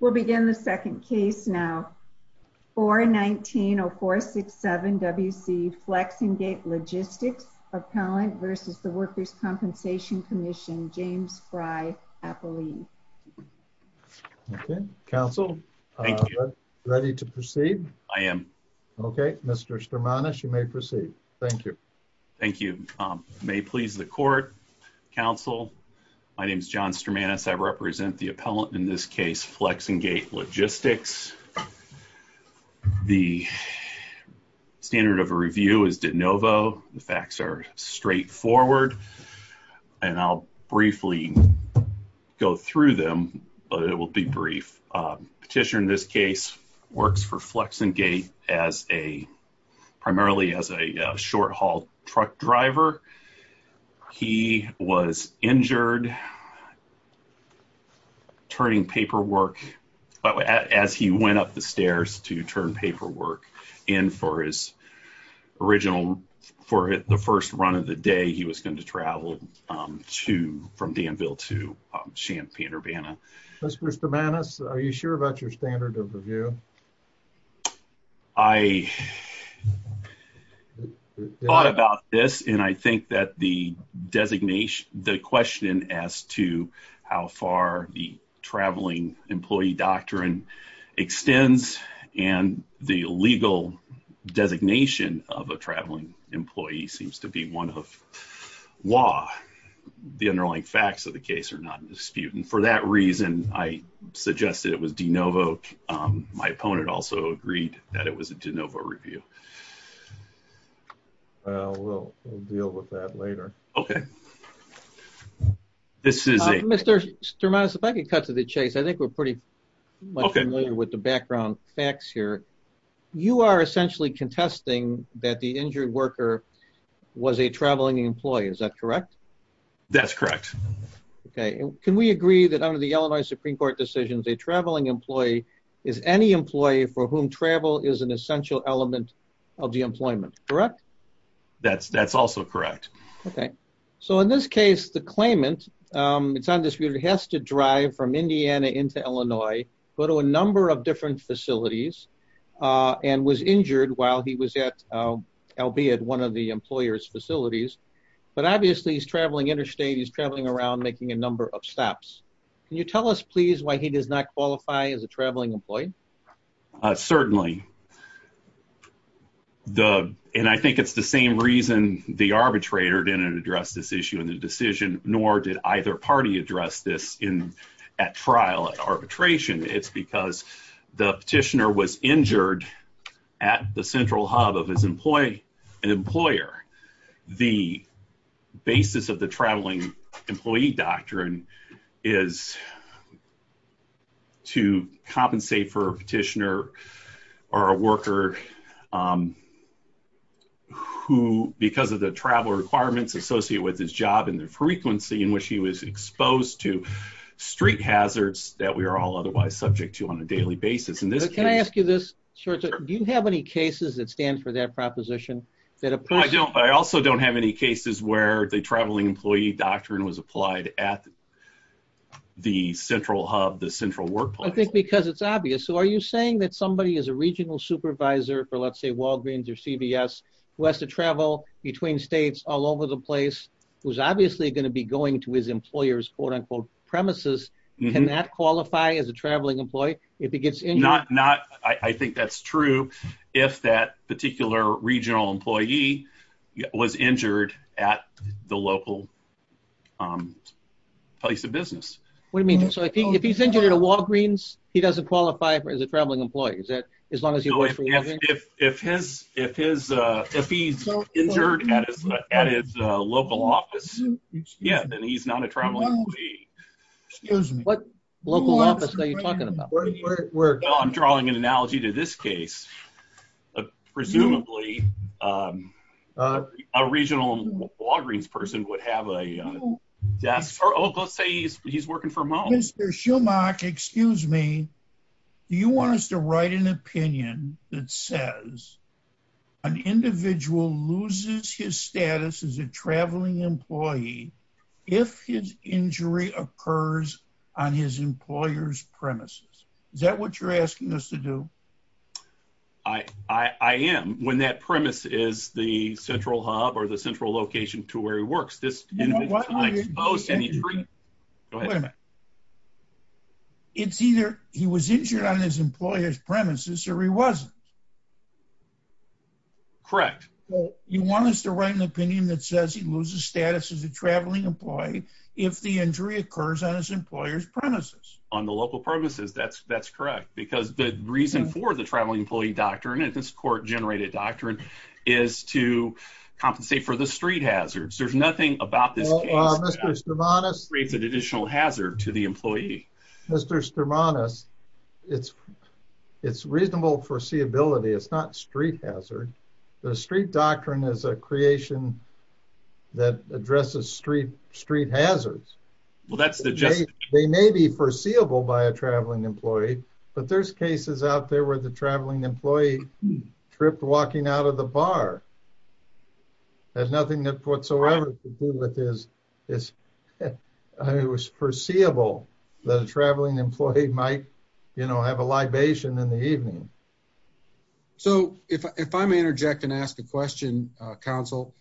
We'll begin the second case now. 419-0467-WC Flex-N-Gate Logistics Appellant v. The Workers' Compensation Commission, James Fry Appellee. Okay, counsel. Thank you. Ready to proceed? I am. Okay, Mr. Stramanis, you may proceed. Thank you. Thank you. May it please the court, counsel, my name is John Stramanis. I represent the Flex-N-Gate Logistics. The standard of a review is de novo. The facts are straightforward, and I'll briefly go through them, but it will be brief. Petitioner in this case works for Flex-N-Gate primarily as a short-haul truck driver. He was injured as he went up the stairs to turn paperwork, and for his original, for the first run of the day, he was going to travel from Danville to Champaign-Urbana. Mr. Stramanis, are you sure about your standard of review? I thought about this, and I think that the designation, as to how far the traveling employee doctrine extends, and the legal designation of a traveling employee seems to be one of law. The underlying facts of the case are not in dispute, and for that reason, I suggested it was de novo. My opponent also agreed that it was a de novo review. Well, we'll deal with that later. Okay. Mr. Stramanis, if I could cut to the chase. I think we're pretty much familiar with the background facts here. You are essentially contesting that the injured worker was a traveling employee. Is that correct? That's correct. Okay. Can we agree that under the Illinois Supreme Court decisions, a traveling employee is any employee for whom travel is an of the employment, correct? That's also correct. Okay. So, in this case, the claimant, it's undisputed, has to drive from Indiana into Illinois, go to a number of different facilities, and was injured while he was at, albeit one of the employer's facilities, but obviously, he's traveling interstate. He's traveling around making a number of stops. Can you tell us, please, why he does not qualify as a traveling employee? Certainly. And I think it's the same reason the arbitrator didn't address this issue in the decision, nor did either party address this at trial, at arbitration. It's because the petitioner was injured at the central hub of his employer. The basis of the traveling employee doctrine is to compensate for a petitioner or a worker who, because of the travel requirements associated with his job and the frequency in which he was exposed to street hazards that we are all otherwise subject to on a daily basis. Can I ask you this? Do you have any cases that stand for that proposition? I don't, but I also don't have any cases where the traveling employee doctrine was applied at the central hub, the central workplace. I think because it's obvious. So, are you saying that somebody is a regional supervisor for, let's say, Walgreens or CVS, who has to travel between states all over the place, who's obviously going to be going to his employer's quote-unquote premises, cannot qualify as a traveling employee if he gets injured? Not, I think that's true if that particular regional employee was injured at the local place of business. What do you mean? So, if he's injured at a Walgreens, he doesn't qualify for as a traveling employee, is that as long as he works for Walgreens? If he's injured at his local office, yeah, then he's not a traveling employee. Excuse me. What local office are you talking about? I'm making an analogy to this case. Presumably, a regional Walgreens person would have a desk, or let's say he's working for a mall. Mr. Schumach, excuse me, do you want us to write an opinion that says an individual loses his status as a traveling employee if his injury occurs on his employer's premises? Is that what you're asking us to do? I am. When that premise is the central hub or the central location to where he works, this it's either he was injured on his employer's premises or he wasn't. Correct. Well, you want us to write an opinion that says he loses status as a traveling employee if the injury occurs on his employer's premises. On the local premises, that's correct. Because the reason for the traveling employee doctrine, and this court-generated doctrine, is to compensate for the street hazards. There's nothing about this case that creates an additional hazard to the employee. Mr. Sturmanis, it's reasonable foreseeability. It's not street hazard. The street doctrine is a creation that addresses street hazards. They may be foreseeable by a traveling employee, but there's cases out there where the traveling employee tripped walking out of the bar. That has nothing whatsoever to do with this. It was foreseeable that a traveling employee might have a libation in the evening. So if I may interject and ask a question, counsel,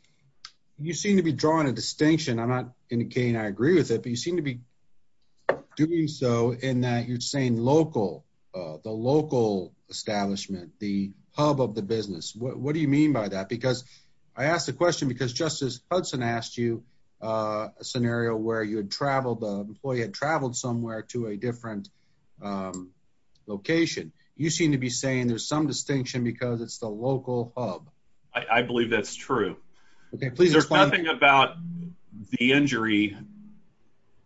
you seem to be drawing a distinction. I'm not indicating I agree with it, but you seem to be doing so in that you're saying local, the local establishment, the hub of the business. What do you mean by that? Because I asked the question because Justice Hudson asked you a scenario where the employee had traveled somewhere to a different location. You seem to be saying there's some distinction because it's the local hub. I believe that's true. There's nothing about the injury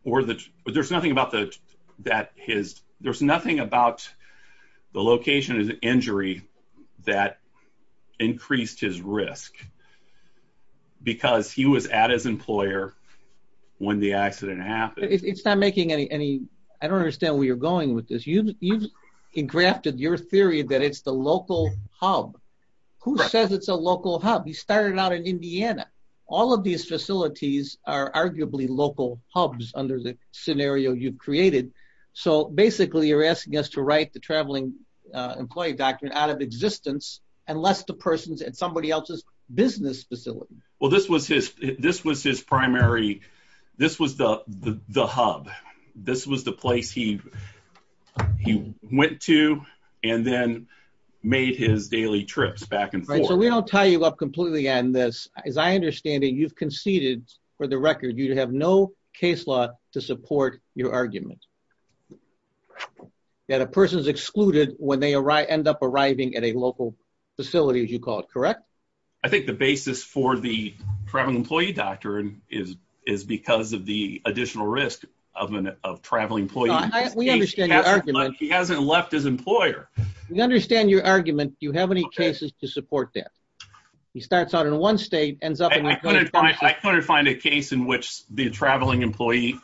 or the, there's nothing about the, that his, there's nothing about the location of the injury that increased his risk because he was at his employer when the accident happened. It's not making any, I don't understand where you're going with this. You've engrafted your theory that it's the local hub. Who says it's a local hub? He started out in Indiana. All of these facilities are arguably local hubs under the scenario you've created. So basically you're asking us to write the traveling employee document out of existence unless the person's at somebody else's business facility. Well, this was his, this was his primary, this was the hub. This was the place he went to and then made his daily trips back and forth. Right, so we don't tie you up completely on this. As I understand it, you've conceded for the record, you have no case law to support your argument that a person's excluded when they arrive, end up arriving at a local facility, as you call it, correct? I think the basis for the traveling employee doctrine is, is because of the additional risk of an, of traveling employees. We understand your argument. He hasn't left his employer. We understand your argument. Do you have any cases to support that? He starts out in one state, I couldn't find, I couldn't find a case in which the traveling employee,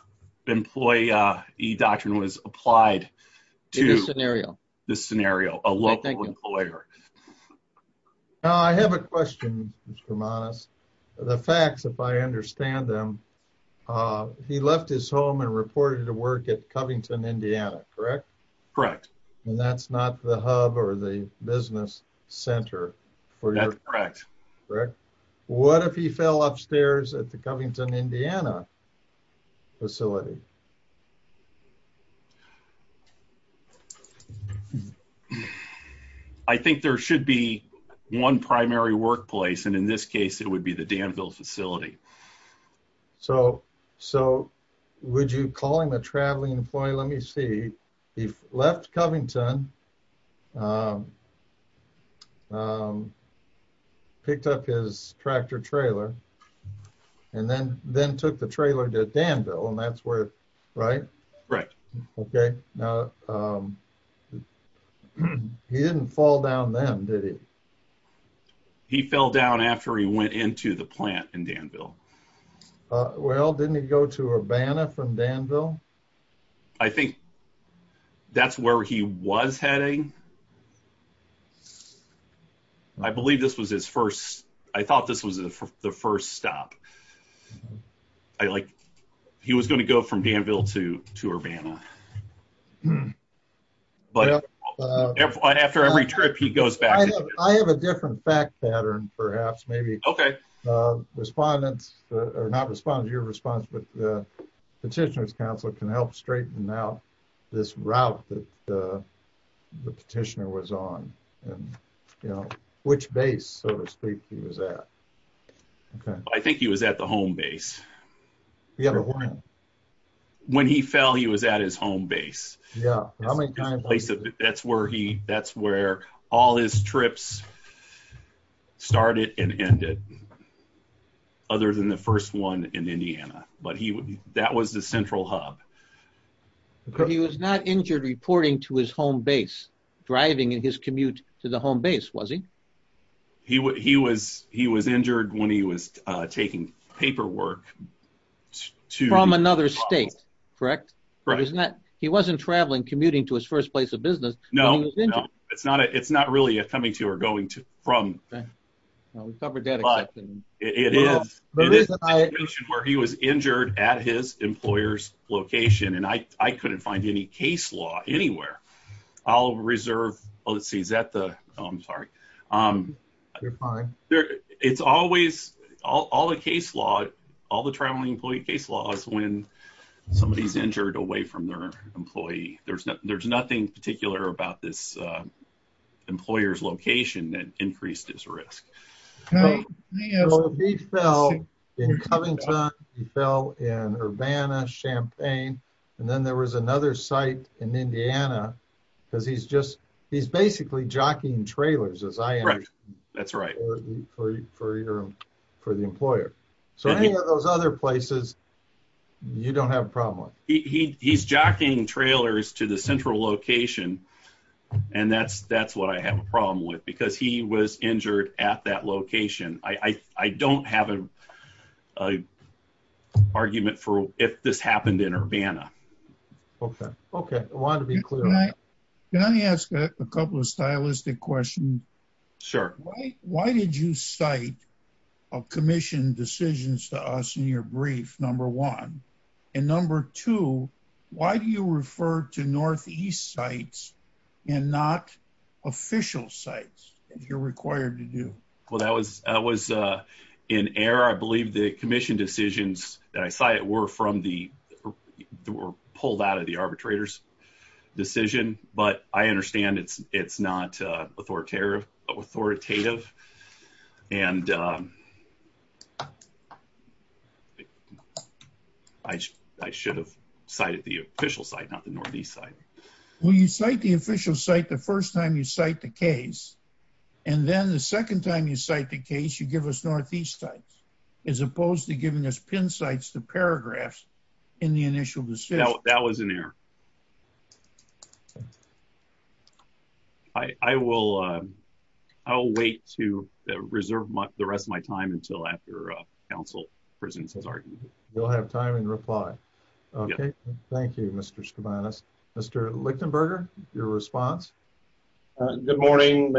employee, e-doctrine was applied to this scenario, a local employer. Now, I have a question, Mr. Hermanis. The facts, if I understand them, he left his home and reported to work at Covington, Indiana, correct? Correct. And that's not the hub or the business center. That's correct. Correct. What if he fell upstairs at the Covington, Indiana facility? I think there should be one primary workplace, and in this case, it would be the Danville facility. So, so would you call him a traveling employee? Let me see. He left Covington, um, picked up his tractor trailer and then, then took the trailer to Danville, and that's where, right? Right. Okay. Now, um, he didn't fall down then, did he? He fell down after he went into the plant in Danville. Uh, well, didn't he go to Urbana from Danville? I think that's where he was heading. I believe this was his first, I thought this was the first stop. I like, he was going to go from Danville to, to Urbana, but after every trip, he goes back. I have, I have a different fact pattern, perhaps maybe, uh, respondents or not respond to your response, but the petitioner's counsel can help straighten out this route that the petitioner was on and, you know, which base, so to speak, he was at. Okay. I think he was at the home base. When he fell, he was at his home base. Yeah. That's where he, that's where all his trips started and ended other than the first one in Indiana, but he, that was the central hub. He was not injured reporting to his home base, driving in his commute to the home base, was he? He, he was, he was injured when he was, uh, taking paperwork to... From another state, correct? Right. He wasn't traveling, commuting to his first place of business. No, no, it's not, it's not really a coming to or going to from, but it is where he was injured at his employer's location. And I, I couldn't find any case law anywhere. I'll reserve, let's see, is that the, oh, I'm sorry. Um, it's always all the case law, all the traveling employee case law is when somebody is injured away from their employee. There's nothing, there's nothing particular about this, uh, employer's location that increased his risk. He fell in Covington, he fell in Urbana, Champaign, and then there was another site in Indiana because he's just, he's basically jockeying trailers as I am. That's right. For your, for the employer. So any of those other places, you don't have a problem with? He, he, he's jockeying trailers to the central location and that's, that's what I have a problem with because he was injured at that location. I, I, I don't have a, a argument for if this happened in Urbana. Okay. Okay. I wanted to be clear. Can I ask a couple of stylistic questions? Sure. Why did you cite a commission decisions to us in your brief number one and number two, why do you refer to Northeast sites and not official sites if you're required to do? Well, that was, that was, uh, in error. I believe the commission decisions that I cited were from the, were pulled out of the arbitrators decision, but I understand it's, it's not, uh, authoritative and, um, I, I should have cited the official site, not the Northeast site. Well, you cite the official site the first time you cite the case. And then the second time you cite the case, you give us Northeast sites as opposed to giving us pin sites, the paragraphs in the initial decision. That was an error. I, I will, uh, I'll wait to reserve the rest of my time until after, uh, council presence has argued. You'll have time and reply. Okay. Thank you, Mr. Mr. Lichtenberger, your response. Good morning,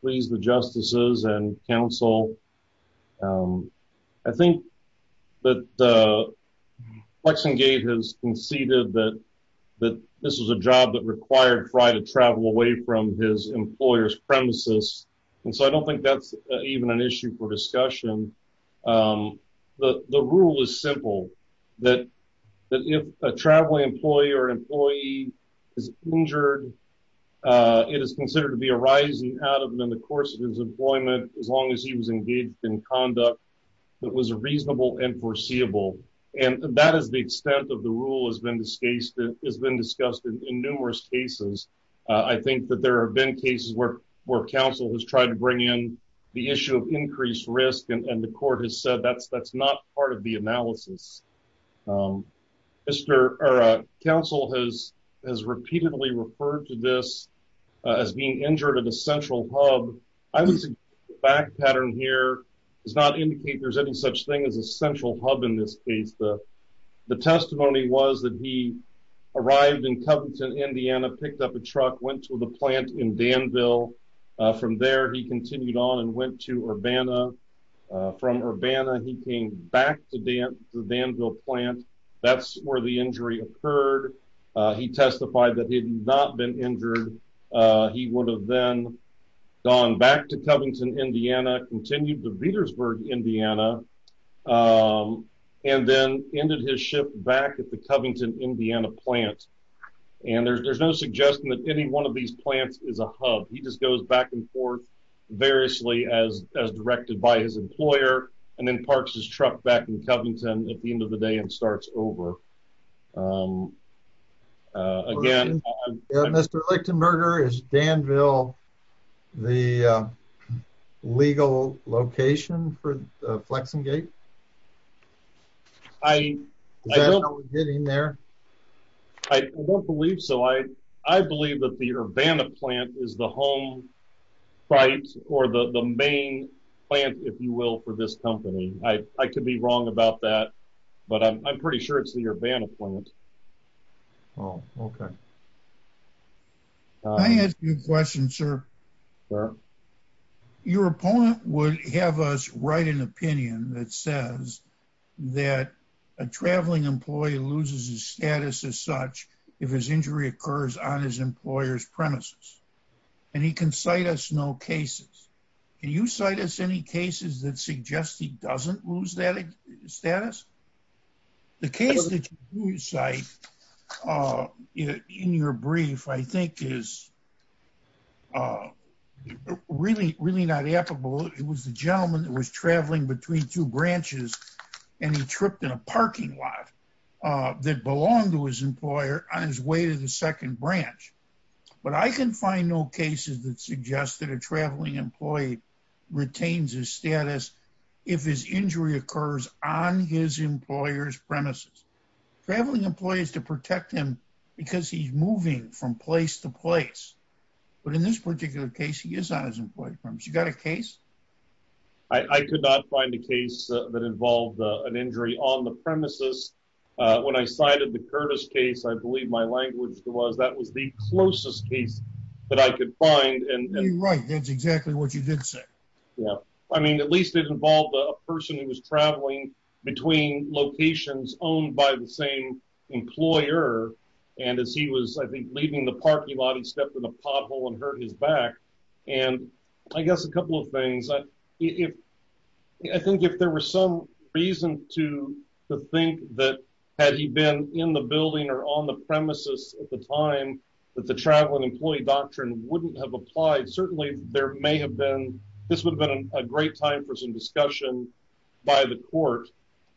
please. The justices and council. Um, I think that, uh, flexing gate has conceded that, that this was a job that required, try to travel away from his employer's premises. And so I don't think that's even an issue for discussion. Um, the, the rule is simple, that, that if a traveling employee or employee is injured, uh, it is considered to be a rising out of them in the course of his employment, as long as he was engaged in rule has been discussed in numerous cases. I think that there have been cases where, where council has tried to bring in the issue of increased risk, and the court has said that's, that's not part of the analysis. Um, Mr. Council has, has repeatedly referred to this as being injured of the central hub. I was back pattern here is not indicate there's any such thing as a central hub in this case. The testimony was that he arrived in Covington, Indiana, picked up a truck, went to the plant in Danville. From there, he continued on and went to Urbana. From Urbana, he came back to Danville plant. That's where the injury occurred. He testified that he had not been injured. He would have then gone back to Covington, Indiana, continued to Petersburg, Indiana, um, and then ended his ship back at the Covington, Indiana plant. And there's no suggestion that any one of these plants is a hub. He just goes back and forth variously as directed by his employer and then parks his truck back in Covington at the end of the day and starts over. Um, again, Mr. Lichtenberger is Danville the legal location for Flexingate? I don't believe so. I believe that the Urbana plant is the home site or the the main plant, if you will, for this company. I could be wrong about that, but I'm pretty sure it's the Urbana plant. Oh, okay. Can I ask you a question, sir? Sure. Your opponent would have us write an opinion that says that a traveling employee loses his status as such if his injury occurs on his employer's side. I can cite us no cases. Can you cite us any cases that suggest he doesn't lose that status? The case that you cite, uh, in your brief, I think is, uh, really, really not applicable. It was the gentleman that was traveling between two branches and he tripped in a parking lot that belonged to his employer on his way to the second branch. But I can find no cases that suggest that a traveling employee retains his status if his injury occurs on his employer's premises. Traveling employees to protect him because he's moving from place to place. But in this particular case, he is on his employer's premise. You got a case? I could not find a case that involved an injury on the premises. When I cited the Curtis case, I believe my language was that was the closest case that I could find. And you're right. That's exactly what you did say. Yeah. I mean, at least it involved a person who was traveling between locations owned by the same employer. And as he was, I think, leaving the parking lot, stepped in a pothole and hurt his back. And I guess a couple of things. I think if there was some reason to think that had he been in the building or on the premises at the time that the traveling employee doctrine wouldn't have applied, certainly there may have been. This would have been a great time for some discussion by the court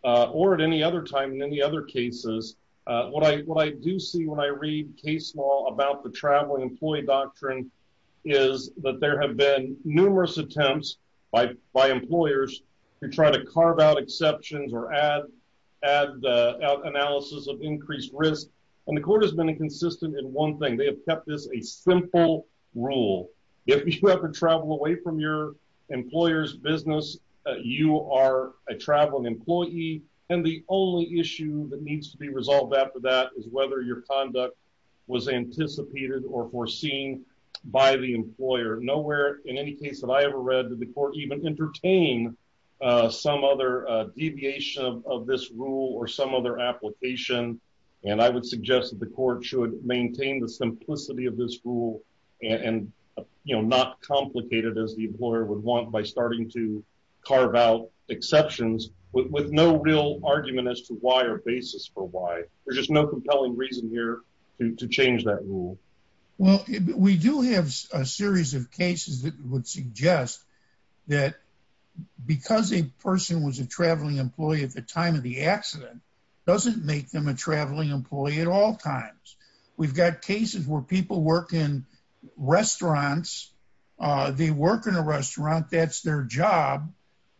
or at any other time in any other cases. What I do see when I read case law about the traveling employee doctrine is that there have been numerous attempts by employers to try to carve out exceptions or add analysis of increased risk. And the court has been inconsistent in one thing. They have kept this a simple rule. If you ever travel away from your employer's business, you are a traveling employee. And the only issue that needs to be resolved after that is whether your conduct was anticipated or foreseen by the employer. Nowhere in any case that I ever read that the court even entertain some other deviation of this rule or some other application. And I would suggest that the court should maintain the simplicity of this rule and not complicate it as the employer would want by starting to carve out exceptions with no real argument as to why or basis for why. There's just no compelling reason here to change that rule. Well, we do have a series of cases that would suggest that because a person was a traveling employee at the time of the accident doesn't make them a traveling employee at all times. We've got cases where people work in restaurants. They work in a restaurant, that's their job,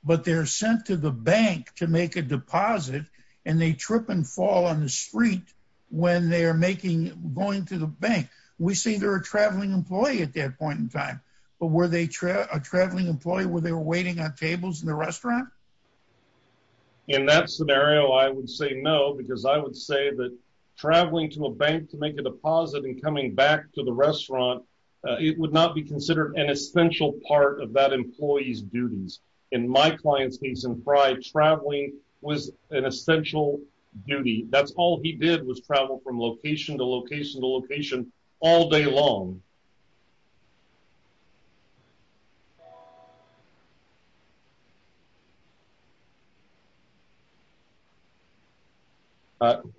but they're sent to the bank to make a deposit and they trip and fall on the street when they're going to the bank. We say they're a traveling employee at that point in time, but were they a traveling employee where they were waiting on tables in the restaurant? In that scenario, I would say no, because I would say that traveling to a bank to make a deposit and coming back to the restaurant, it would not be considered an essential part of that employee's duties. In my client's case in Pride, traveling was an essential duty. That's all he did was travel from location to location to location all day long.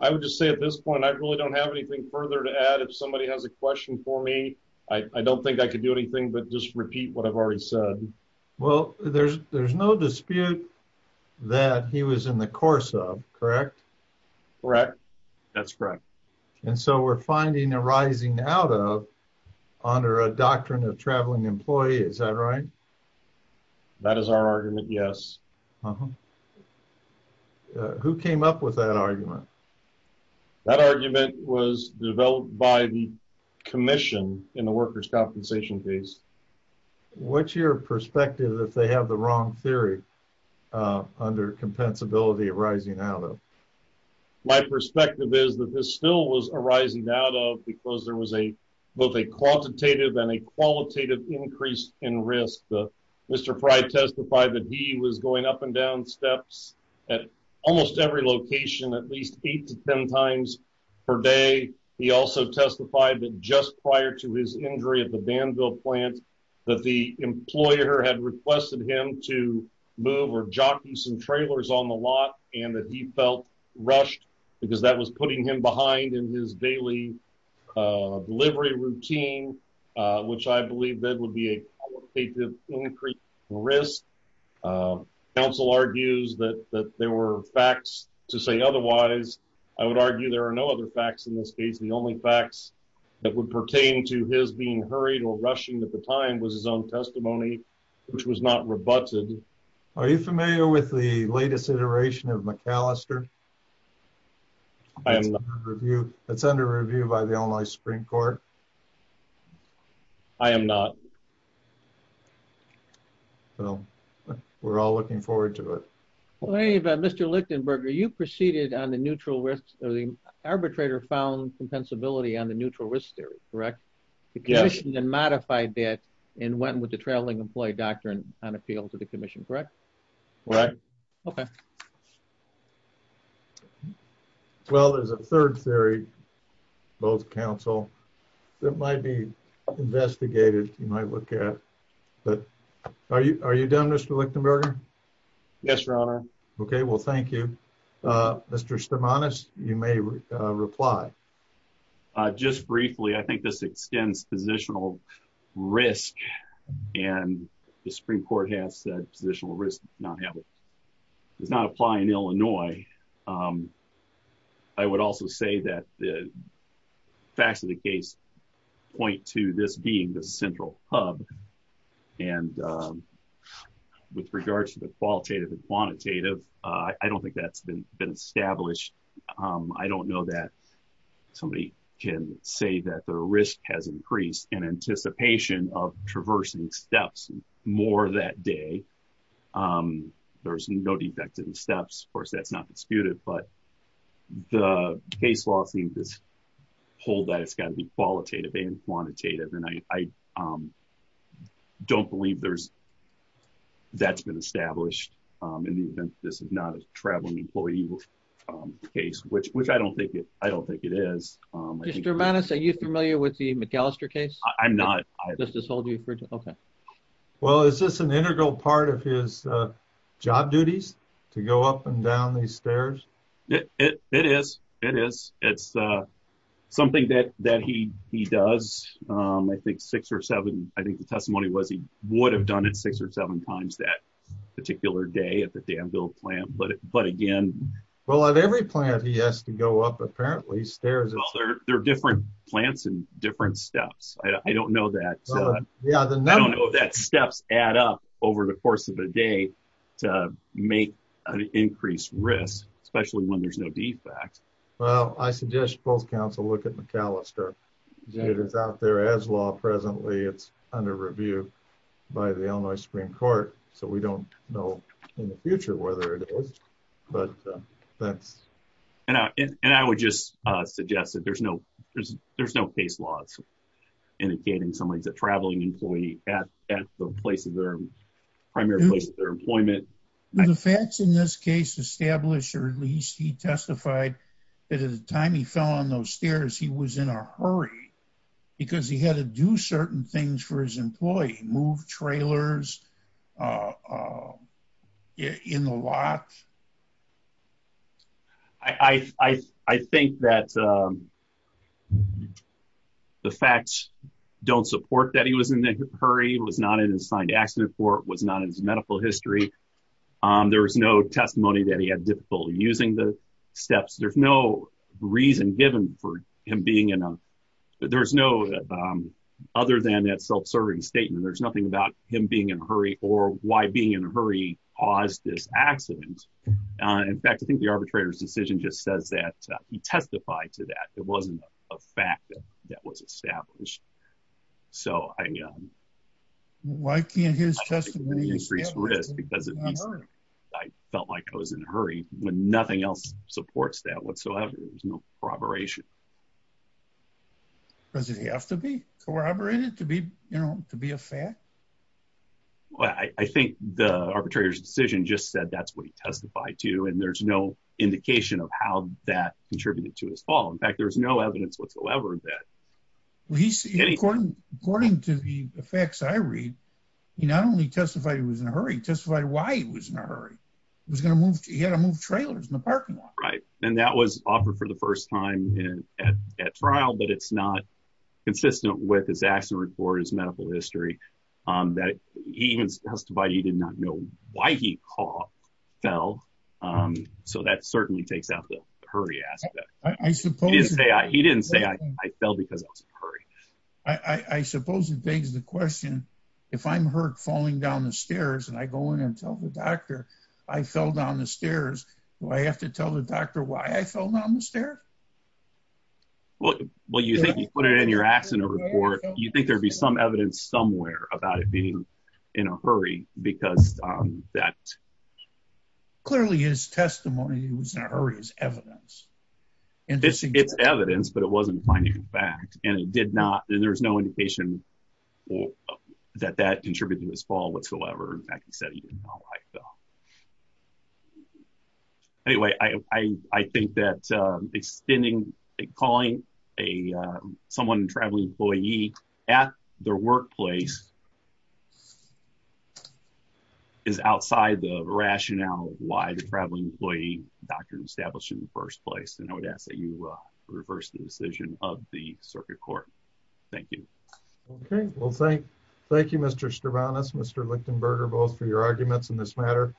I would just say at this point, I really don't have anything further to add. If somebody has a question for me, I don't think I could do anything but just repeat what I've already said. Well, there's no dispute that he was in the course of, correct? Correct. That's correct. And so we're finding a rising out of under a doctrine of traveling employee, is that right? That is our argument. Yes. Who came up with that argument? That argument was developed by the commission in the workers' compensation phase. What's your perspective if they have the wrong theory under compensability of rising out of? My perspective is that this still was a rising out of because there was a quantitative and a qualitative increase in risk. Mr. Pride testified that he was going up and down steps at almost every location at least 8 to 10 times per day. He also testified that just prior to his injury at the Danville plant, that the employer had requested him to move or jockey some trailers on the lot and that he felt rushed because that was putting him behind in his daily delivery routine, which I believe that would be a qualitative increase in risk. Council argues that there were facts to say otherwise. I would argue there are no other facts in this case. The only facts that would pertain to his being hurried or rushing at the time was his own testimony, which was not rebutted. Are you familiar with the latest iteration of the Illinois Supreme Court? I am not. Well, we're all looking forward to it. Mr. Lichtenberger, you preceded on the arbitrator found compensability on the neutral risk theory, correct? The commission then modified that and went with the traveling employee doctrine on appeal to the commission, correct? Right. Okay. Well, there's a third theory, both counsel that might be investigated. You might look at that. Are you? Are you done? Mr. Lichtenberger? Yes, Your Honor. Okay, well, thank you, Mr. Stamatos. You may reply just briefly. I think this extends positional risk, and the Supreme Court has said positional risk does not apply in Illinois. I would also say that the facts of the case point to this being the central hub. And with regards to the qualitative and quantitative, I don't think that's been established. I don't know that somebody can say that the risk has been evaluated in that day. There's no defective in steps. Of course, that's not disputed, but the case law seems to hold that it's got to be qualitative and quantitative. And I don't believe that's been established in the event that this is not a traveling employee case, which I don't think it is. Mr. Stamatos, are you familiar with the McAllister case? I'm not. Well, is this an integral part of his job duties to go up and down these stairs? It is. It is. It's something that he does. I think six or seven. I think the testimony was he would have done it six or seven times that particular day at the Danville plant. But again... Well, at every plant, he has to go up, apparently, stairs. There are different plants and different steps. I don't know that steps add up over the course of a day to make an increased risk, especially when there's no defect. Well, I suggest both counsel look at McAllister. It is out there as law presently. It's under review by the Illinois Supreme Court. So we don't know in the future whether it is, but that's... And I would just suggest that there's no case law indicating somebody's a traveling employee at the primary place of their employment. The facts in this case establish, or at least he testified, that at the time he fell on those stairs, he was in a hurry because he had to do I think that the facts don't support that he was in a hurry, was not in a signed accident report, was not in his medical history. There was no testimony that he had difficulty using the steps. There's no reason given for him being in a... There's no... Other than that self-serving statement, there's nothing about him being in a hurry or why being in a hurry caused this accident. In fact, I think the arbitrator's decision just says that he testified to that. It wasn't a fact that that was established. So I... Why can't his testimony establish that he was in a hurry? I felt like I was in a hurry when nothing else supports that whatsoever. There's no corroboration. Does it have to be corroborated to be a fact? Well, I think the arbitrator's decision just said that's what he testified to, and there's no indication of how that contributed to his fall. In fact, there's no evidence whatsoever that... Well, he's... According to the facts I read, he not only testified he was in a hurry, he testified why he was in a hurry. He was going to move... He had to move trailers in the parking lot. Right. And that was offered for the first time at trial, but it's not that... He even testified he did not know why he fell, so that certainly takes out the hurry aspect. I suppose... He didn't say, I fell because I was in a hurry. I suppose it begs the question, if I'm hurt falling down the stairs and I go in and tell the doctor I fell down the stairs, do I have to tell the doctor why I fell down the stairs? Well, you think you put it in your accident report, you think there'd be some evidence somewhere about it being in a hurry because that... Clearly, his testimony he was in a hurry is evidence. It's evidence, but it wasn't finding fact, and it did not... And there was no indication that that contributed to his fall whatsoever. In fact, he said he did not know why he fell. Anyway, I think that extending... Calling someone a traveling employee at their workplace is outside the rationale why the traveling employee doctor established in the first place. And I would ask that you reverse the decision of the circuit court. Thank you. Okay. Well, thank you, Mr. Stravanos, Mr. Lichtenberger, both for your arguments in this matter. Thank you.